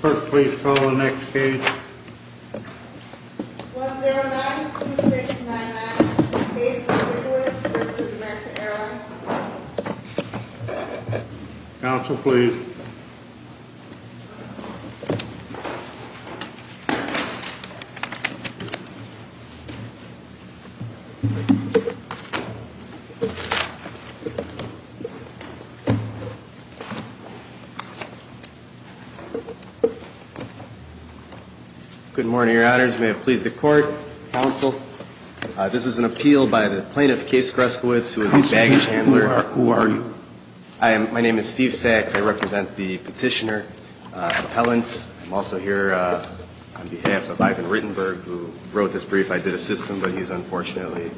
Clerk, please call the next case. 1092699 Case of Grzeskiwicz v. Mecca Airlines Counsel, please. Good morning, Your Honors. May it please the Court, Counsel. This is an appeal by the plaintiff, Case Grzeskiwicz, who is the baggage handler. Who are you? My name is Steve Sachs. I represent the petitioner appellants. I'm also here on behalf of Ivan Rittenberg, who wrote this brief. I did assist him, but he's unfortunately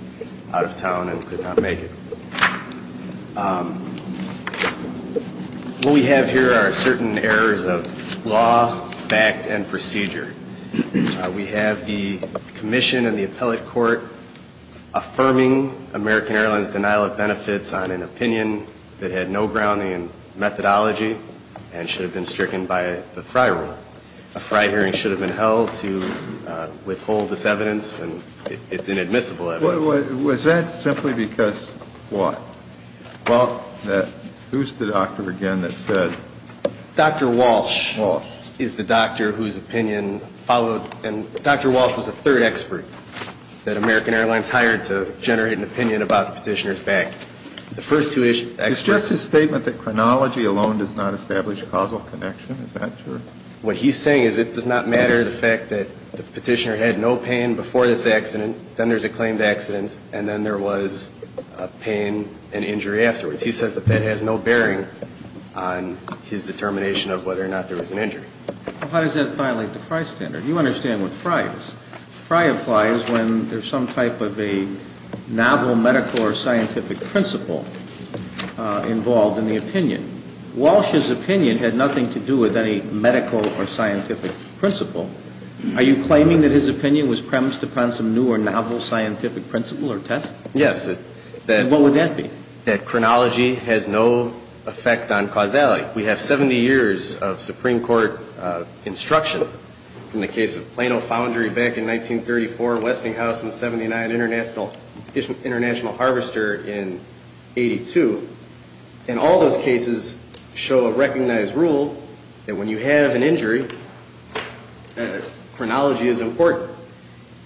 out of town and could not make it. What we have here are certain errors of law, fact, and procedure. We have the commission and the appellate court affirming American Airlines' denial of benefits on an opinion that had no grounding in methodology and should have been stricken by the Fry Rule. A Fry hearing should have been held to withhold this evidence, and it's inadmissible evidence. Was that simply because what? Well, who's the doctor again that said? Dr. Walsh is the doctor whose opinion followed, and Dr. Walsh was the third expert that American Airlines hired to generate an opinion about the petitioner's back. It's just a statement that chronology alone does not establish causal connection. Is that true? What he's saying is it does not matter the fact that the petitioner had no pain before this accident, then there's a claimed accident, and then there was pain and injury afterwards. He says that that has no bearing on his determination of whether or not there was an injury. Well, how does that violate the Fry standard? You understand what Fry is. Fry applies when there's some type of a novel medical or scientific principle involved in the opinion. Walsh's opinion had nothing to do with any medical or scientific principle. Are you claiming that his opinion was premised upon some new or novel scientific principle or test? Yes. What would that be? That chronology has no effect on causality. We have 70 years of Supreme Court instruction in the case of Plano Foundry back in 1934, Westinghouse in 79, International Harvester in 82. And all those cases show a recognized rule that when you have an injury, chronology is important.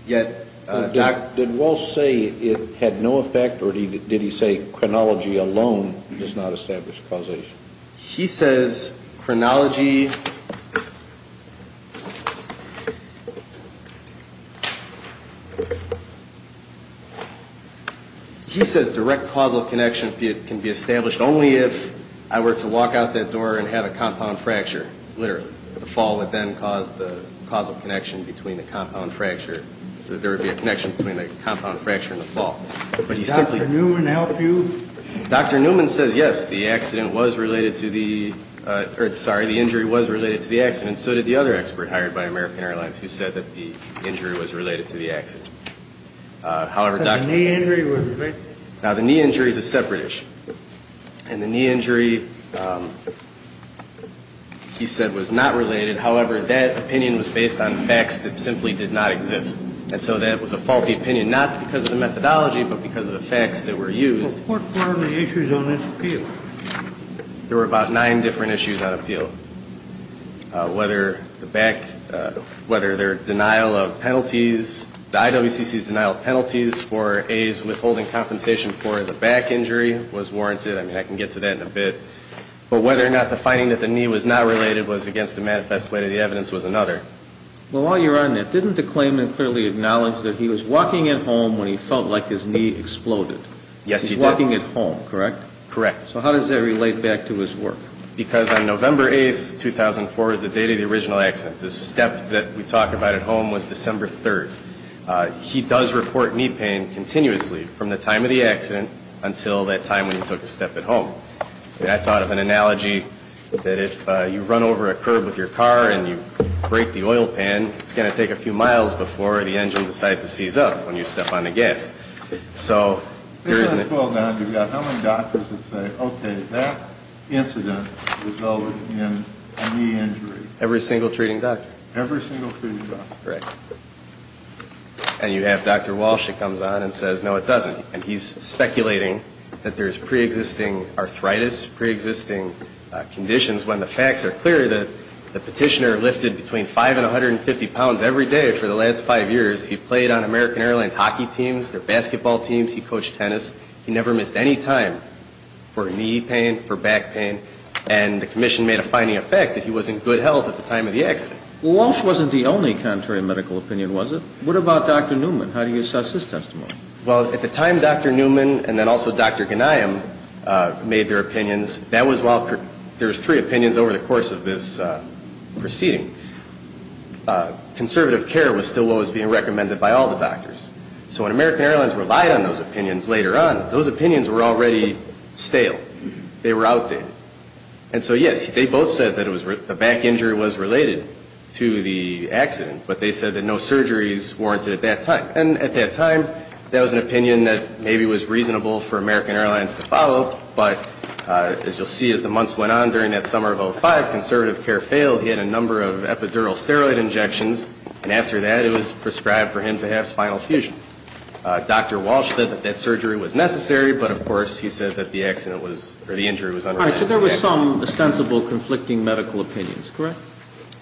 Did Walsh say it had no effect, or did he say chronology alone does not establish causation? He says chronology... He says direct causal connection can be established only if I were to walk out that door and have a compound fracture, literally. The fall would then cause the causal connection between the compound fracture, so there would be a connection between the compound fracture and the fall. But he simply... Did Dr. Newman help you? Dr. Newman says, yes, the accident was related to the... Sorry, the injury was related to the accident, and so did the other expert hired by American Airlines who said that the injury was related to the accident. However, Dr. Newman... The knee injury was related? Now, the knee injury is a separate issue. And the knee injury, he said, was not related. However, that opinion was based on facts that simply did not exist. And so that was a faulty opinion, not because of the methodology, but because of the facts that were used. What were the issues on this appeal? There were about nine different issues on appeal. Whether the back, whether their denial of penalties, the IWCC's denial of penalties for A's withholding compensation for the back injury was warranted. I mean, I can get to that in a bit. But whether or not the finding that the knee was not related was against the manifest way of the evidence was another. Well, while you're on that, didn't the claimant clearly acknowledge that he was walking at home when he felt like his knee exploded? Yes, he did. He was walking at home, correct? Correct. So how does that relate back to his work? Because on November 8th, 2004, is the date of the original accident. The step that we talk about at home was December 3rd. He does report knee pain continuously from the time of the accident until that time when he took a step at home. I mean, I thought of an analogy that if you run over a curb with your car and you break the oil pan, it's going to take a few miles before the engine decides to seize up when you step on the gas. So there isn't a... Hold on. You've got how many doctors that say, okay, that incident resulted in a knee injury? Every single treating doctor. Every single treating doctor. Correct. And you have Dr. Walsh that comes on and says, no, it doesn't. And he's speculating that there's preexisting arthritis, preexisting conditions, when the facts are clear that the petitioner lifted between 5 and 150 pounds every day for the last five years. He played on American Airlines hockey teams, their basketball teams. He coached tennis. He never missed any time for knee pain, for back pain. And the commission made a finding of fact that he was in good health at the time of the accident. Walsh wasn't the only contrary medical opinion, was it? What about Dr. Newman? How do you assess his testimony? Well, at the time, Dr. Newman and then also Dr. Ghanayem made their opinions. That was while there was three opinions over the course of this proceeding. Conservative care was still what was being recommended by all the doctors. So when American Airlines relied on those opinions later on, those opinions were already stale. They were outdated. And so, yes, they both said that the back injury was related to the accident, but they said that no surgery is warranted at that time. And at that time, that was an opinion that maybe was reasonable for American Airlines to follow, but as you'll see as the months went on during that summer of 2005, conservative care failed. He had a number of epidural steroid injections, and after that, it was prescribed for him to have spinal fusion. Dr. Walsh said that that surgery was necessary, but, of course, he said that the accident was or the injury was unrelated to the accident. All right, so there was some ostensible conflicting medical opinions, correct?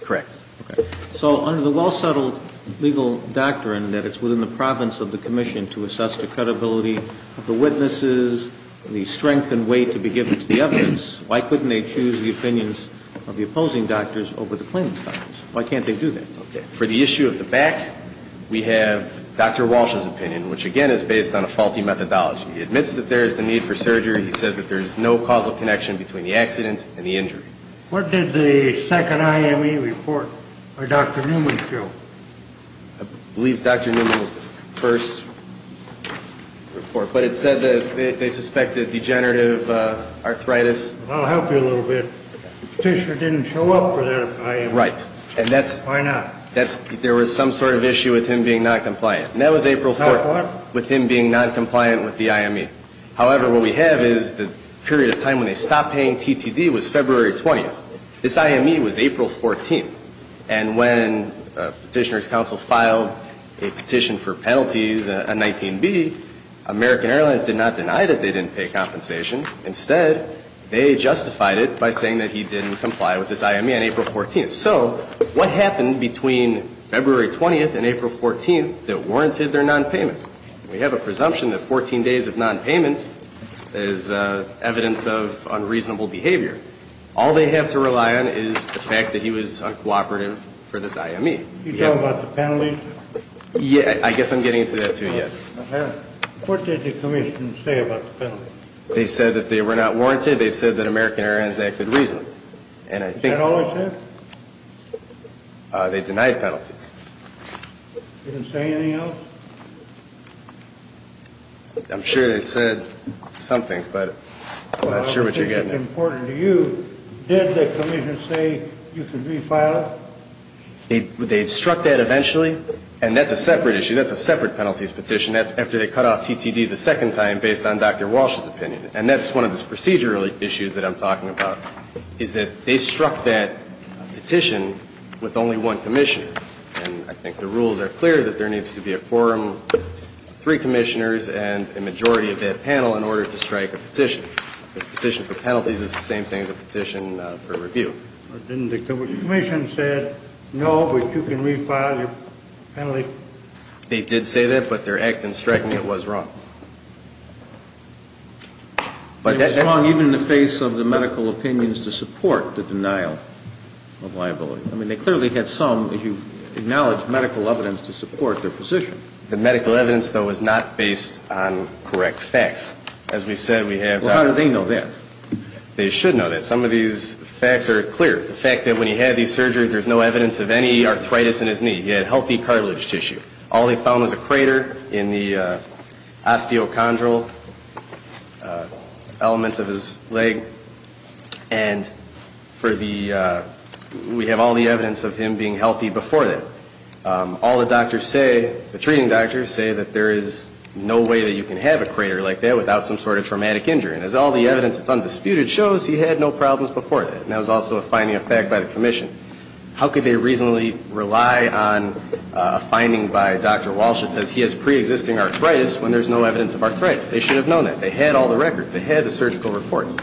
Correct. Okay. So under the well-settled legal doctrine that it's within the province of the commission to assess the credibility of the witnesses, the strength and weight to be given to the evidence, why couldn't they choose the opinions of the opposing doctors over the plaintiff's doctors? Why can't they do that? Okay. For the issue of the back, we have Dr. Walsh's opinion, which, again, is based on a faulty methodology. He admits that there is the need for surgery. He says that there is no causal connection between the accident and the injury. What did the second IME report by Dr. Newman show? I believe Dr. Newman was the first report, but it said that they suspected degenerative arthritis. I'll help you a little bit. The petitioner didn't show up for that IME. Right. Why not? There was some sort of issue with him being noncompliant, and that was April 4th with him being noncompliant with the IME. However, what we have is the period of time when they stopped paying TTD was February 20th. This IME was April 14th. And when Petitioner's Counsel filed a petition for penalties, a 19B, American Airlines did not deny that they didn't pay compensation. Instead, they justified it by saying that he didn't comply with this IME on April 14th. So what happened between February 20th and April 14th that warranted their nonpayment? We have a presumption that 14 days of nonpayment is evidence of unreasonable behavior. All they have to rely on is the fact that he was uncooperative for this IME. Are you talking about the penalties? I guess I'm getting to that, too, yes. Okay. What did the commission say about the penalties? They said that they were not warranted. They said that American Airlines acted reasonably. Is that all they said? They denied penalties. Did they say anything else? I'm sure they said some things, but I'm not sure what you're getting at. Well, I don't think it's important to you. Did the commission say you could refile? They struck that eventually. And that's a separate issue. That's a separate penalties petition. That's after they cut off TTD the second time based on Dr. Walsh's opinion. And that's one of the procedural issues that I'm talking about, is that they struck that petition with only one commissioner. And I think the rules are clear that there needs to be a quorum, three commissioners, and a majority of that panel in order to strike a petition. A petition for penalties is the same thing as a petition for review. Didn't the commission say, no, but you can refile your penalty? They did say that, but their act in striking it was wrong. It was wrong even in the face of the medical opinions to support the denial of liability. I mean, they clearly had some, as you acknowledge, medical evidence to support their position. The medical evidence, though, is not based on correct facts. As we said, we have Dr. Walsh. Well, how do they know that? They should know that. Some of these facts are clear. The fact that when he had these surgeries, there's no evidence of any arthritis in his knee. He had healthy cartilage tissue. All they found was a crater in the osteochondral elements of his leg. And we have all the evidence of him being healthy before that. All the doctors say, the treating doctors say that there is no way that you can have a crater like that without some sort of traumatic injury. And as all the evidence that's undisputed shows, he had no problems before that. And that was also a finding of fact by the commission. How could they reasonably rely on a finding by Dr. Walsh that says he has preexisting arthritis when there's no evidence of arthritis? They should have known that. They had all the records. They had the surgical reports.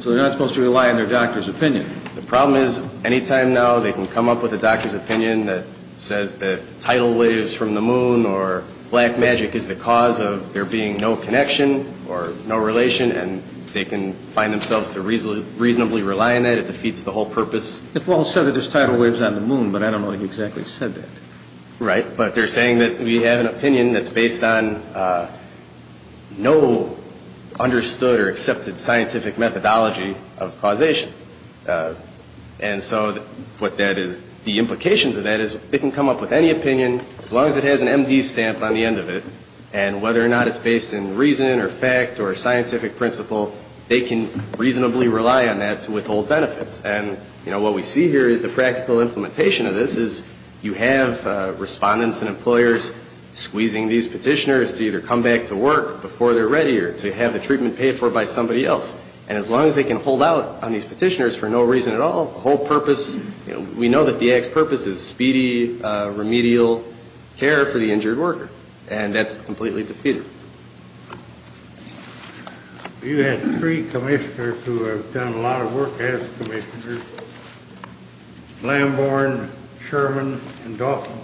So they're not supposed to rely on their doctor's opinion. The problem is, any time now, they can come up with a doctor's opinion that says that tidal waves from the moon or black magic is the cause of there being no connection or no relation, and they can find themselves to reasonably rely on that. It defeats the whole purpose. Walsh said that there's tidal waves on the moon, but I don't know that he exactly said that. Right. But they're saying that we have an opinion that's based on no understood or accepted scientific methodology of causation. And so what that is, the implications of that is they can come up with any opinion, as long as it has an MD stamp on the end of it, and whether or not it's based in reason or fact or scientific principle, they can reasonably rely on that to withhold benefits. And, you know, what we see here is the practical implementation of this is you have respondents and employers squeezing these petitioners to either come back to work before they're ready or to have the treatment paid for by somebody else. And as long as they can hold out on these petitioners for no reason at all, the whole purpose, you know, we know that the Axe purpose is speedy, remedial care for the injured worker. And that's completely defeated. You had three commissioners who have done a lot of work as commissioners, Lambourne, Sherman, and Dauphin,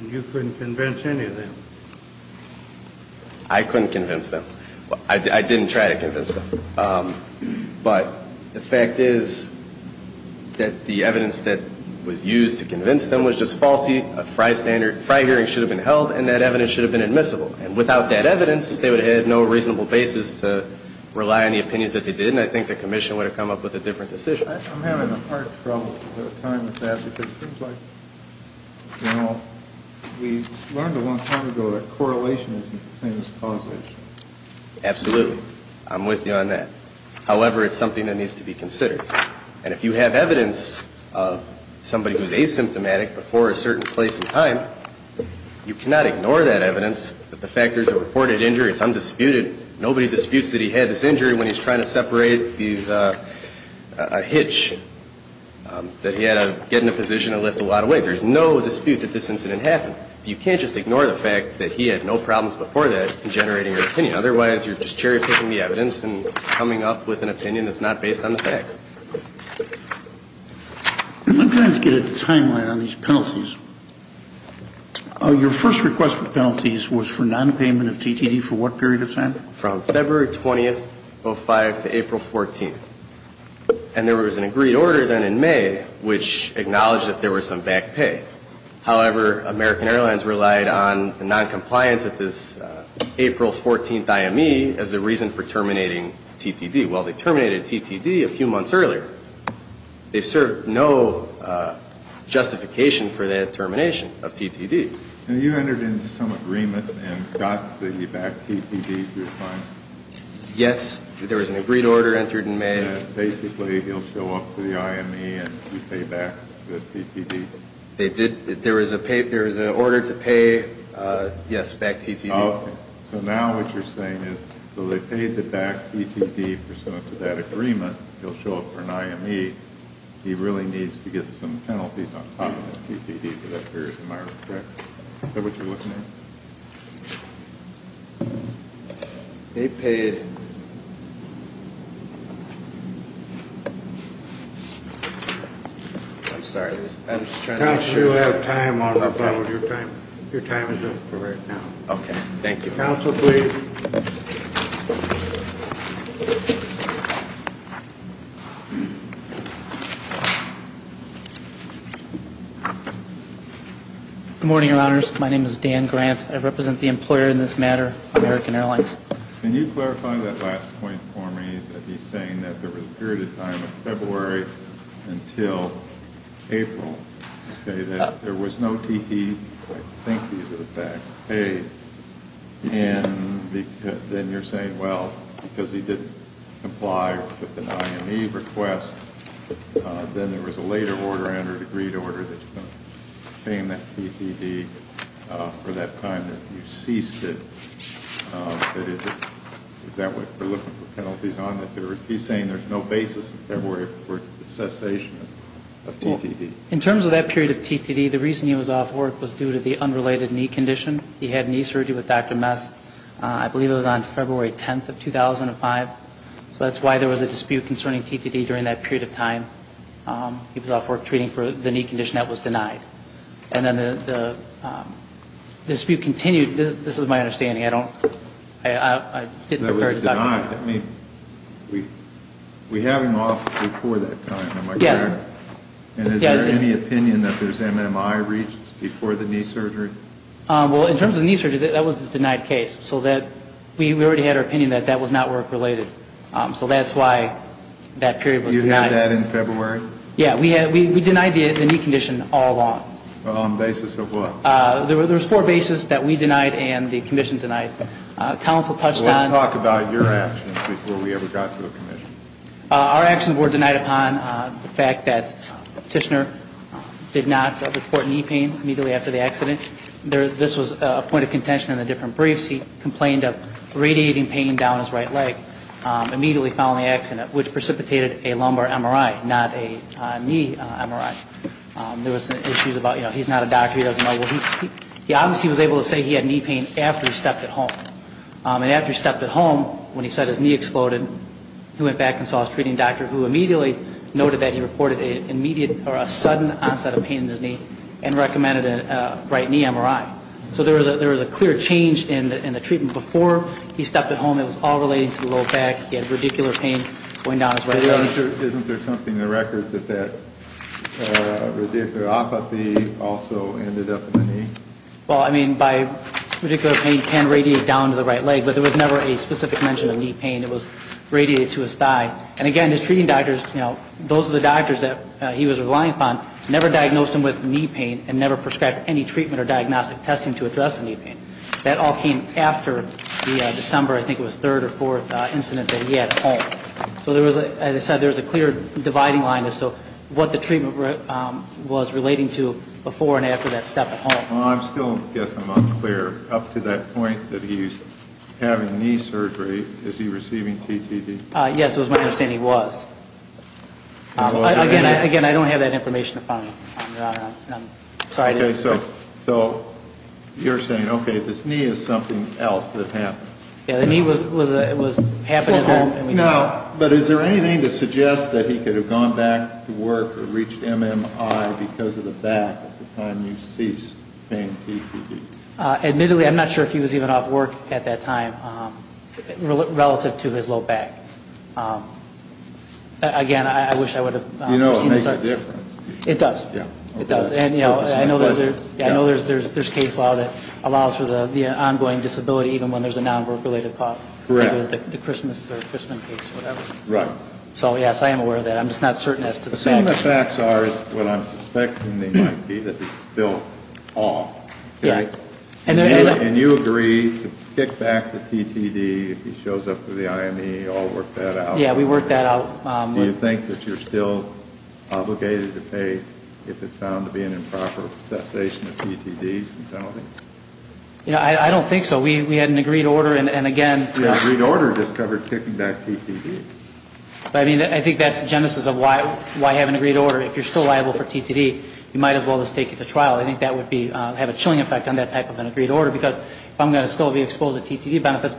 and you couldn't convince any of them. I couldn't convince them. I didn't try to convince them. But the fact is that the evidence that was used to convince them was just faulty. A FRI hearing should have been held, and that evidence should have been admissible. And without that evidence, they would have had no reasonable basis to rely on the opinions that they did, and I think the commission would have come up with a different decision. I'm having a hard time with that because it seems like, you know, we learned a long time ago that correlation isn't the same as causation. Absolutely. I'm with you on that. However, it's something that needs to be considered. And if you have evidence of somebody who's asymptomatic before a certain place and time, you cannot ignore that evidence, that the fact there's a reported injury, it's undisputed, nobody disputes that he had this injury when he's trying to separate a hitch, that he had to get in a position to lift a lot of weight. There's no dispute that this incident happened. You can't just ignore the fact that he had no problems before that in generating an opinion. Otherwise, you're just cherry-picking the evidence and coming up with an opinion that's not based on the facts. I'm trying to get a timeline on these penalties. Your first request for penalties was for nonpayment of TTD for what period of time? From February 20th, 2005 to April 14th. And there was an agreed order then in May which acknowledged that there was some back pay. However, American Airlines relied on the noncompliance of this April 14th IME as the reason for terminating TTD. Well, they terminated TTD a few months earlier. They served no justification for the termination of TTD. And you entered into some agreement and got the back TTD through a fine? Yes. There was an agreed order entered in May. And basically, he'll show up to the IME and you pay back the TTD? They did. There was an order to pay, yes, back TTD. Okay. So now what you're saying is they paid the back TTD pursuant to that agreement. He'll show up for an IME. He really needs to get some penalties on top of the TTD for that period of time, correct? Is that what you're looking at? They paid. I'm sorry. I'm just trying to make sure. Your time is up for right now. Okay. Thank you. Counsel, please. Good morning, Your Honors. My name is Dan Grant. I represent the employer in this matter, American Airlines. Can you clarify that last point for me that he's saying that there was a period of time in February until April, okay, that there was no TTD? Okay. Thank you for the facts. Paid. And then you're saying, well, because he didn't comply with an IME request, then there was a later order under the agreed order that you're going to obtain that TTD for that time that you ceased it. Is that what you're looking for penalties on? He's saying there's no basis in February for the cessation of TTD. Well, in terms of that period of TTD, the reason he was off work was due to the unrelated knee condition. He had knee surgery with Dr. Mess. I believe it was on February 10th of 2005. So that's why there was a dispute concerning TTD during that period of time. He was off work treating for the knee condition that was denied. And then the dispute continued. This is my understanding. I didn't refer to Dr. Mess. That was denied. We have him off before that time, am I correct? Yes. And is there any opinion that there's MMI reached before the knee surgery? Well, in terms of knee surgery, that was the denied case. We already had our opinion that that was not work-related. So that's why that period was denied. You had that in February? Yeah. We denied the knee condition all along. On the basis of what? There were four bases that we denied and the commission denied. Council touched on- Let's talk about your actions before we ever got to the commission. Our actions were denied upon the fact that Tishner did not report knee pain immediately after the accident. This was a point of contention in the different briefs. He complained of radiating pain down his right leg immediately following the accident, which precipitated a lumbar MRI, not a knee MRI. There was issues about, you know, he's not a doctor, he doesn't know. He obviously was able to say he had knee pain after he stepped at home. And after he stepped at home, when he said his knee exploded, he went back and saw his treating doctor who immediately noted that he reported a sudden onset of pain in his knee and recommended a right knee MRI. So there was a clear change in the treatment. Before he stepped at home, it was all relating to the low back. He had radicular pain going down his right leg. Isn't there something in the records that that radicular apathy also ended up in the knee? Well, I mean, by radicular pain, it can radiate down to the right leg, but there was never a specific mention of knee pain. It was radiated to his thigh. And, again, his treating doctors, you know, those are the doctors that he was relying upon, never diagnosed him with knee pain and never prescribed any treatment or diagnostic testing to address the knee pain. That all came after the December, I think it was, third or fourth incident that he had at home. So there was, as I said, there was a clear dividing line as to what the treatment was relating to before and after that step at home. Well, I'm still guessing I'm unclear. Up to that point that he's having knee surgery, is he receiving TTD? Yes, it was my understanding he was. Again, I don't have that information to find. I'm sorry. Okay, so you're saying, okay, this knee is something else that happened. Yeah, the knee was happening at home. Now, but is there anything to suggest that he could have gone back to work or reached MMI because of the back at the time you seized pain TDD? Admittedly, I'm not sure if he was even off work at that time relative to his low back. Again, I wish I would have seen this. You know it makes a difference. It does. Yeah. It does. And, you know, I know there's case law that allows for the ongoing disability even when there's a non-work-related cause. Correct. Like it was the Christmas or Christman case or whatever. Right. So, yes, I am aware of that. I'm just not certain as to the facts. Some of the facts are what I'm suspecting they might be that he's still off. Yeah. And you agree to kick back the TDD if he shows up for the IME. You all worked that out. Yeah, we worked that out. Do you think that you're still obligated to pay if it's found to be an improper cessation of TDDs and penalties? Yeah, I don't think so. We had an agreed order and, again. The agreed order just covered kicking back TDD. I mean, I think that's the genesis of why I have an agreed order. If you're still liable for TDD, you might as well just take it to trial. I think that would have a chilling effect on that type of an agreed order because if I'm going to still be exposed to TDD benefits,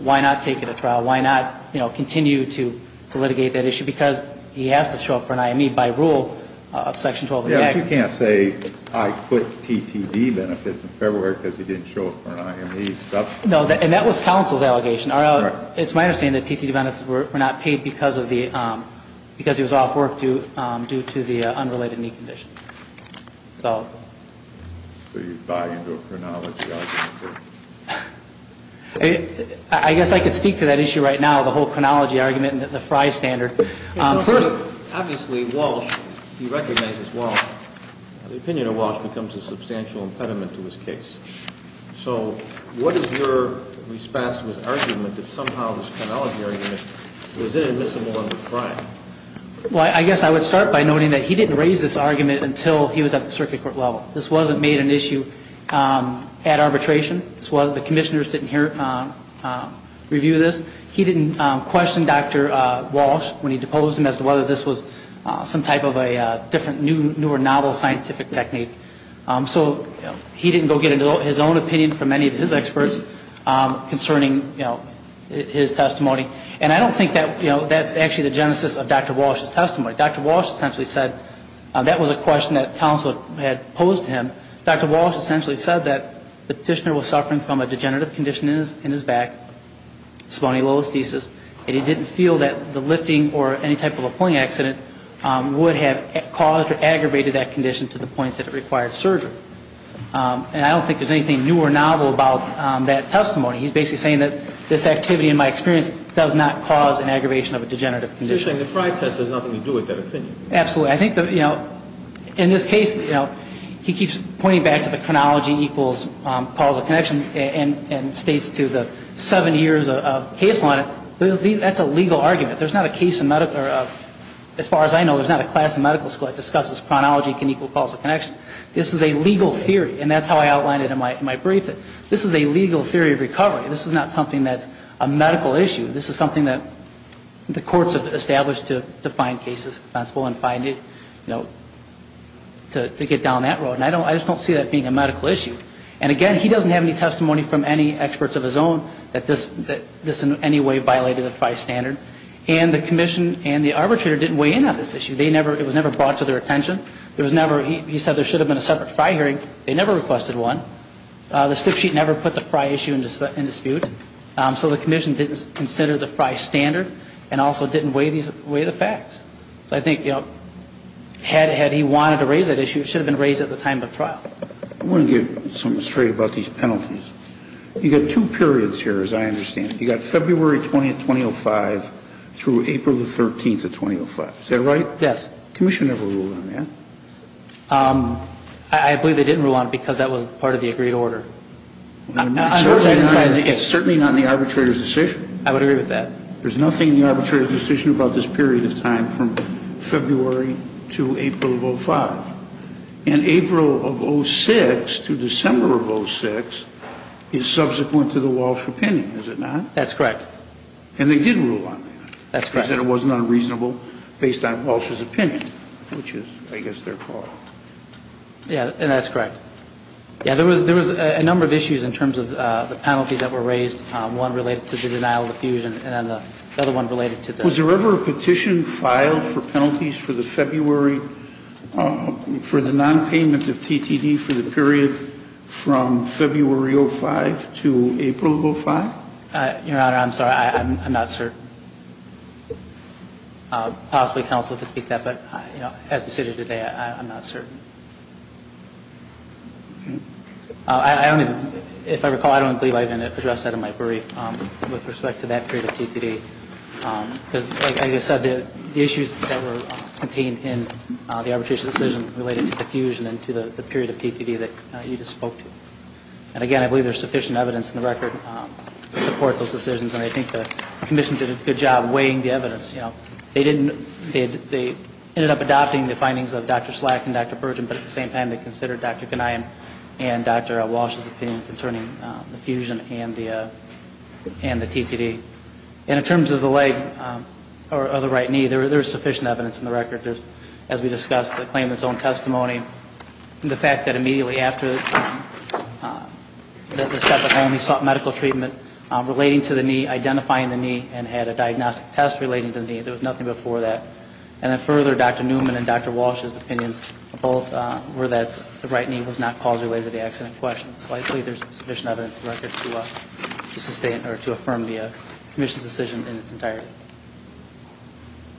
why not take it to trial? Why not continue to litigate that issue because he has to show up for an IME by rule of Section 12 of the Act. Yeah, but you can't say I quit TDD benefits in February because he didn't show up for an IME. No, and that was counsel's allegation. It's my understanding that TDD benefits were not paid because he was off work due to the unrelated knee condition. So you buy into a chronology argument there? I guess I could speak to that issue right now, the whole chronology argument and the Frye standard. First, obviously, Walsh, he recognizes Walsh. The opinion of Walsh becomes a substantial impediment to his case. So what is your response to his argument that somehow this chronology argument was inadmissible under Frye? Well, I guess I would start by noting that he didn't raise this argument until he was at the circuit court level. This wasn't made an issue at arbitration. The commissioners didn't review this. He didn't question Dr. Walsh when he deposed him as to whether this was some type of a different new or novel scientific technique. So he didn't go get his own opinion from any of his experts concerning his testimony. And I don't think that's actually the genesis of Dr. Walsh's testimony. Dr. Walsh essentially said that was a question that counsel had posed to him. Dr. Walsh essentially said that the petitioner was suffering from a degenerative condition in his back, spondylolisthesis, and he didn't feel that the lifting or any type of a pulling accident would have caused or aggravated that condition to the point that it required surgery. And I don't think there's anything new or novel about that testimony. He's basically saying that this activity, in my experience, does not cause an aggravation of a degenerative condition. So you're saying the Frey test has nothing to do with that opinion? Absolutely. I think, you know, in this case, you know, he keeps pointing back to the chronology equals causal connection and states to the seven years of case line, that's a legal argument. There's not a case in medical or, as far as I know, there's not a class in medical school that discusses chronology can equal causal connection. This is a legal theory, and that's how I outlined it in my brief. This is a legal theory of recovery. This is not something that's a medical issue. This is something that the courts have established to find cases responsible and find it, you know, to get down that road. And I just don't see that being a medical issue. And, again, he doesn't have any testimony from any experts of his own that this in any way violated the Frey standard. And the commission and the arbitrator didn't weigh in on this issue. It was never brought to their attention. He said there should have been a separate Frey hearing. They never requested one. The slip sheet never put the Frey issue in dispute. So the commission didn't consider the Frey standard and also didn't weigh the facts. So I think, you know, had he wanted to raise that issue, it should have been raised at the time of trial. I want to get something straight about these penalties. You've got two periods here, as I understand it. You've got February 20th, 2005 through April the 13th of 2005. Is that right? Yes. The commission never ruled on that. I believe they didn't rule on it because that was part of the agreed order. It's certainly not in the arbitrator's decision. I would agree with that. There's nothing in the arbitrator's decision about this period of time from February to April of 2005. And April of 2006 to December of 2006 is subsequent to the Walsh opinion, is it not? That's correct. And they did rule on that. That's correct. And they said it wasn't unreasonable based on Walsh's opinion, which is, I guess, their call. Yeah, and that's correct. Yeah, there was a number of issues in terms of the penalties that were raised, one related to the denial of diffusion and then the other one related to the ---- Was there ever a petition filed for penalties for the February, for the nonpayment of TTD for the period from February 2005 to April 2005? Your Honor, I'm sorry. I'm not certain. Possibly counsel could speak to that, but, you know, as the city today, I'm not certain. I only, if I recall, I don't believe I've addressed that in my brief with respect to that period of TTD. Because, like I said, the issues that were contained in the arbitrator's decision related to diffusion and to the period of TTD that you just spoke to. And, again, I believe there's sufficient evidence in the record to support those decisions. And I think the commission did a good job of weighing the evidence. You know, they didn't, they ended up adopting the findings of Dr. Slack and Dr. Bergen, but at the same time they considered Dr. Ghanaian and Dr. Walsh's opinion concerning diffusion and the TTD. And in terms of the leg, or the right knee, there is sufficient evidence in the record, as we discussed, to claim its own testimony. And the fact that immediately after the step of home, he sought medical treatment relating to the knee, identifying the knee, and had a diagnostic test relating to the knee. There was nothing before that. And then further, Dr. Newman and Dr. Walsh's opinions both were that the right knee was not caused related to the accident in question. So I believe there's sufficient evidence in the record to affirm the commission's decision in its entirety.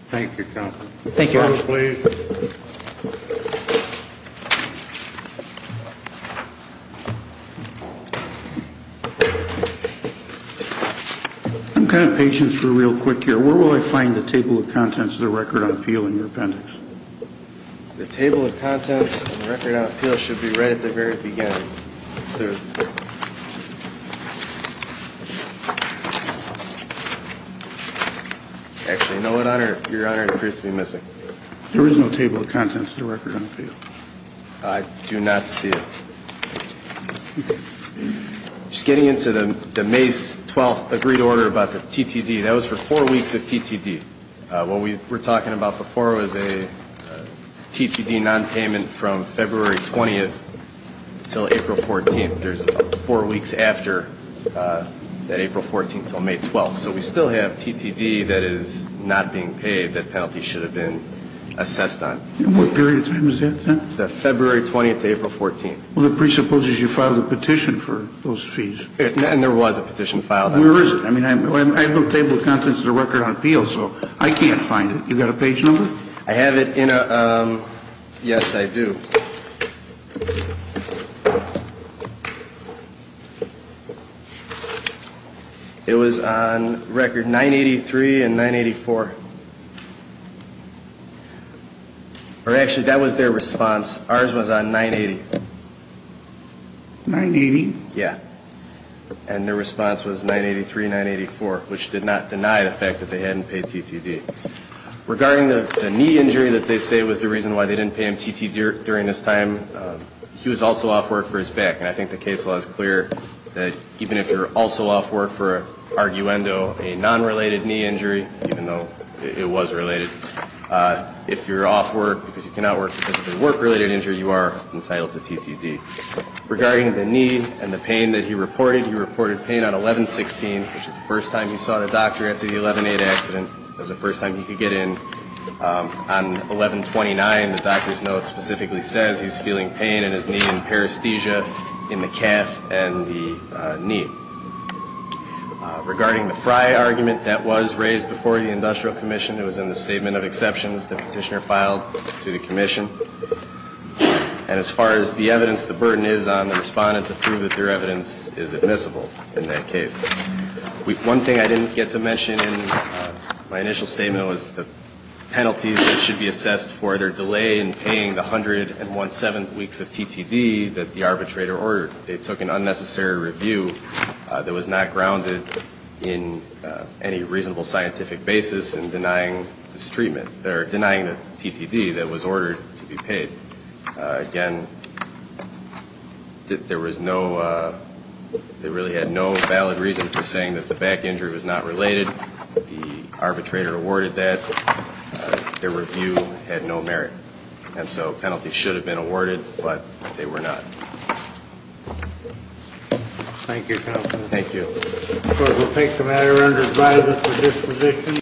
Thank you, counsel. Thank you, Your Honor. Please. I'm kind of patient for a real quick here. Where will I find the table of contents of the record on appeal in your appendix? The table of contents of the record on appeal should be right at the very beginning. Actually, no, Your Honor, it appears to be missing. There is no table of contents of the record on appeal. I do not see it. Just getting into the May 12th agreed order about the TTD, that was for four weeks of TTD. What we were talking about before was a TTD nonpayment from February 20th until April 14th. There's four weeks after that April 14th until May 12th. So we still have TTD that is not being paid, that penalty should have been assessed on. And what period of time is that, then? The February 20th to April 14th. Well, it presupposes you filed a petition for those fees. And there was a petition filed. Where is it? I mean, I have no table of contents of the record on appeal, so I can't find it. You got a page number? I have it in a ‑‑ yes, I do. It was on record 983 and 984. Or actually, that was their response. Ours was on 980. 980? Yeah. And their response was 983, 984, which did not deny the fact that they hadn't paid TTD. Regarding the knee injury that they say was the reason why they didn't pay him TTD during this time, he was also off work for his back. And I think the case law is clear that even if you're also off work for, arguendo, a nonrelated knee injury, even though it was related, if you're off work because you cannot work because of a work‑related injury, you are entitled to TTD. Regarding the knee and the pain that he reported, he reported pain on 1116, which is the first time he saw the doctor after the 11‑8 accident. It was the first time he could get in. On 1129, the doctor's note specifically says he's feeling pain in his knee and paresthesia in the calf and the knee. Regarding the Fry argument that was raised before the industrial commission, it was in the statement of exceptions the petitioner filed to the commission. And as far as the evidence, the burden is on the respondent to prove that their evidence is admissible in that case. One thing I didn't get to mention in my initial statement was the penalties that should be assessed for their delay in paying the 117 weeks of TTD that the arbitrator ordered. They took an unnecessary review that was not grounded in any reasonable scientific basis in denying this treatment or denying the TTD that was ordered to be paid. Again, there was no ‑‑ they really had no valid reason for saying that the back injury was not related. The arbitrator awarded that. Their review had no merit. And so penalties should have been awarded, but they were not. Thank you, counsel. Thank you. Because we'll take the matter under advisory for disposition.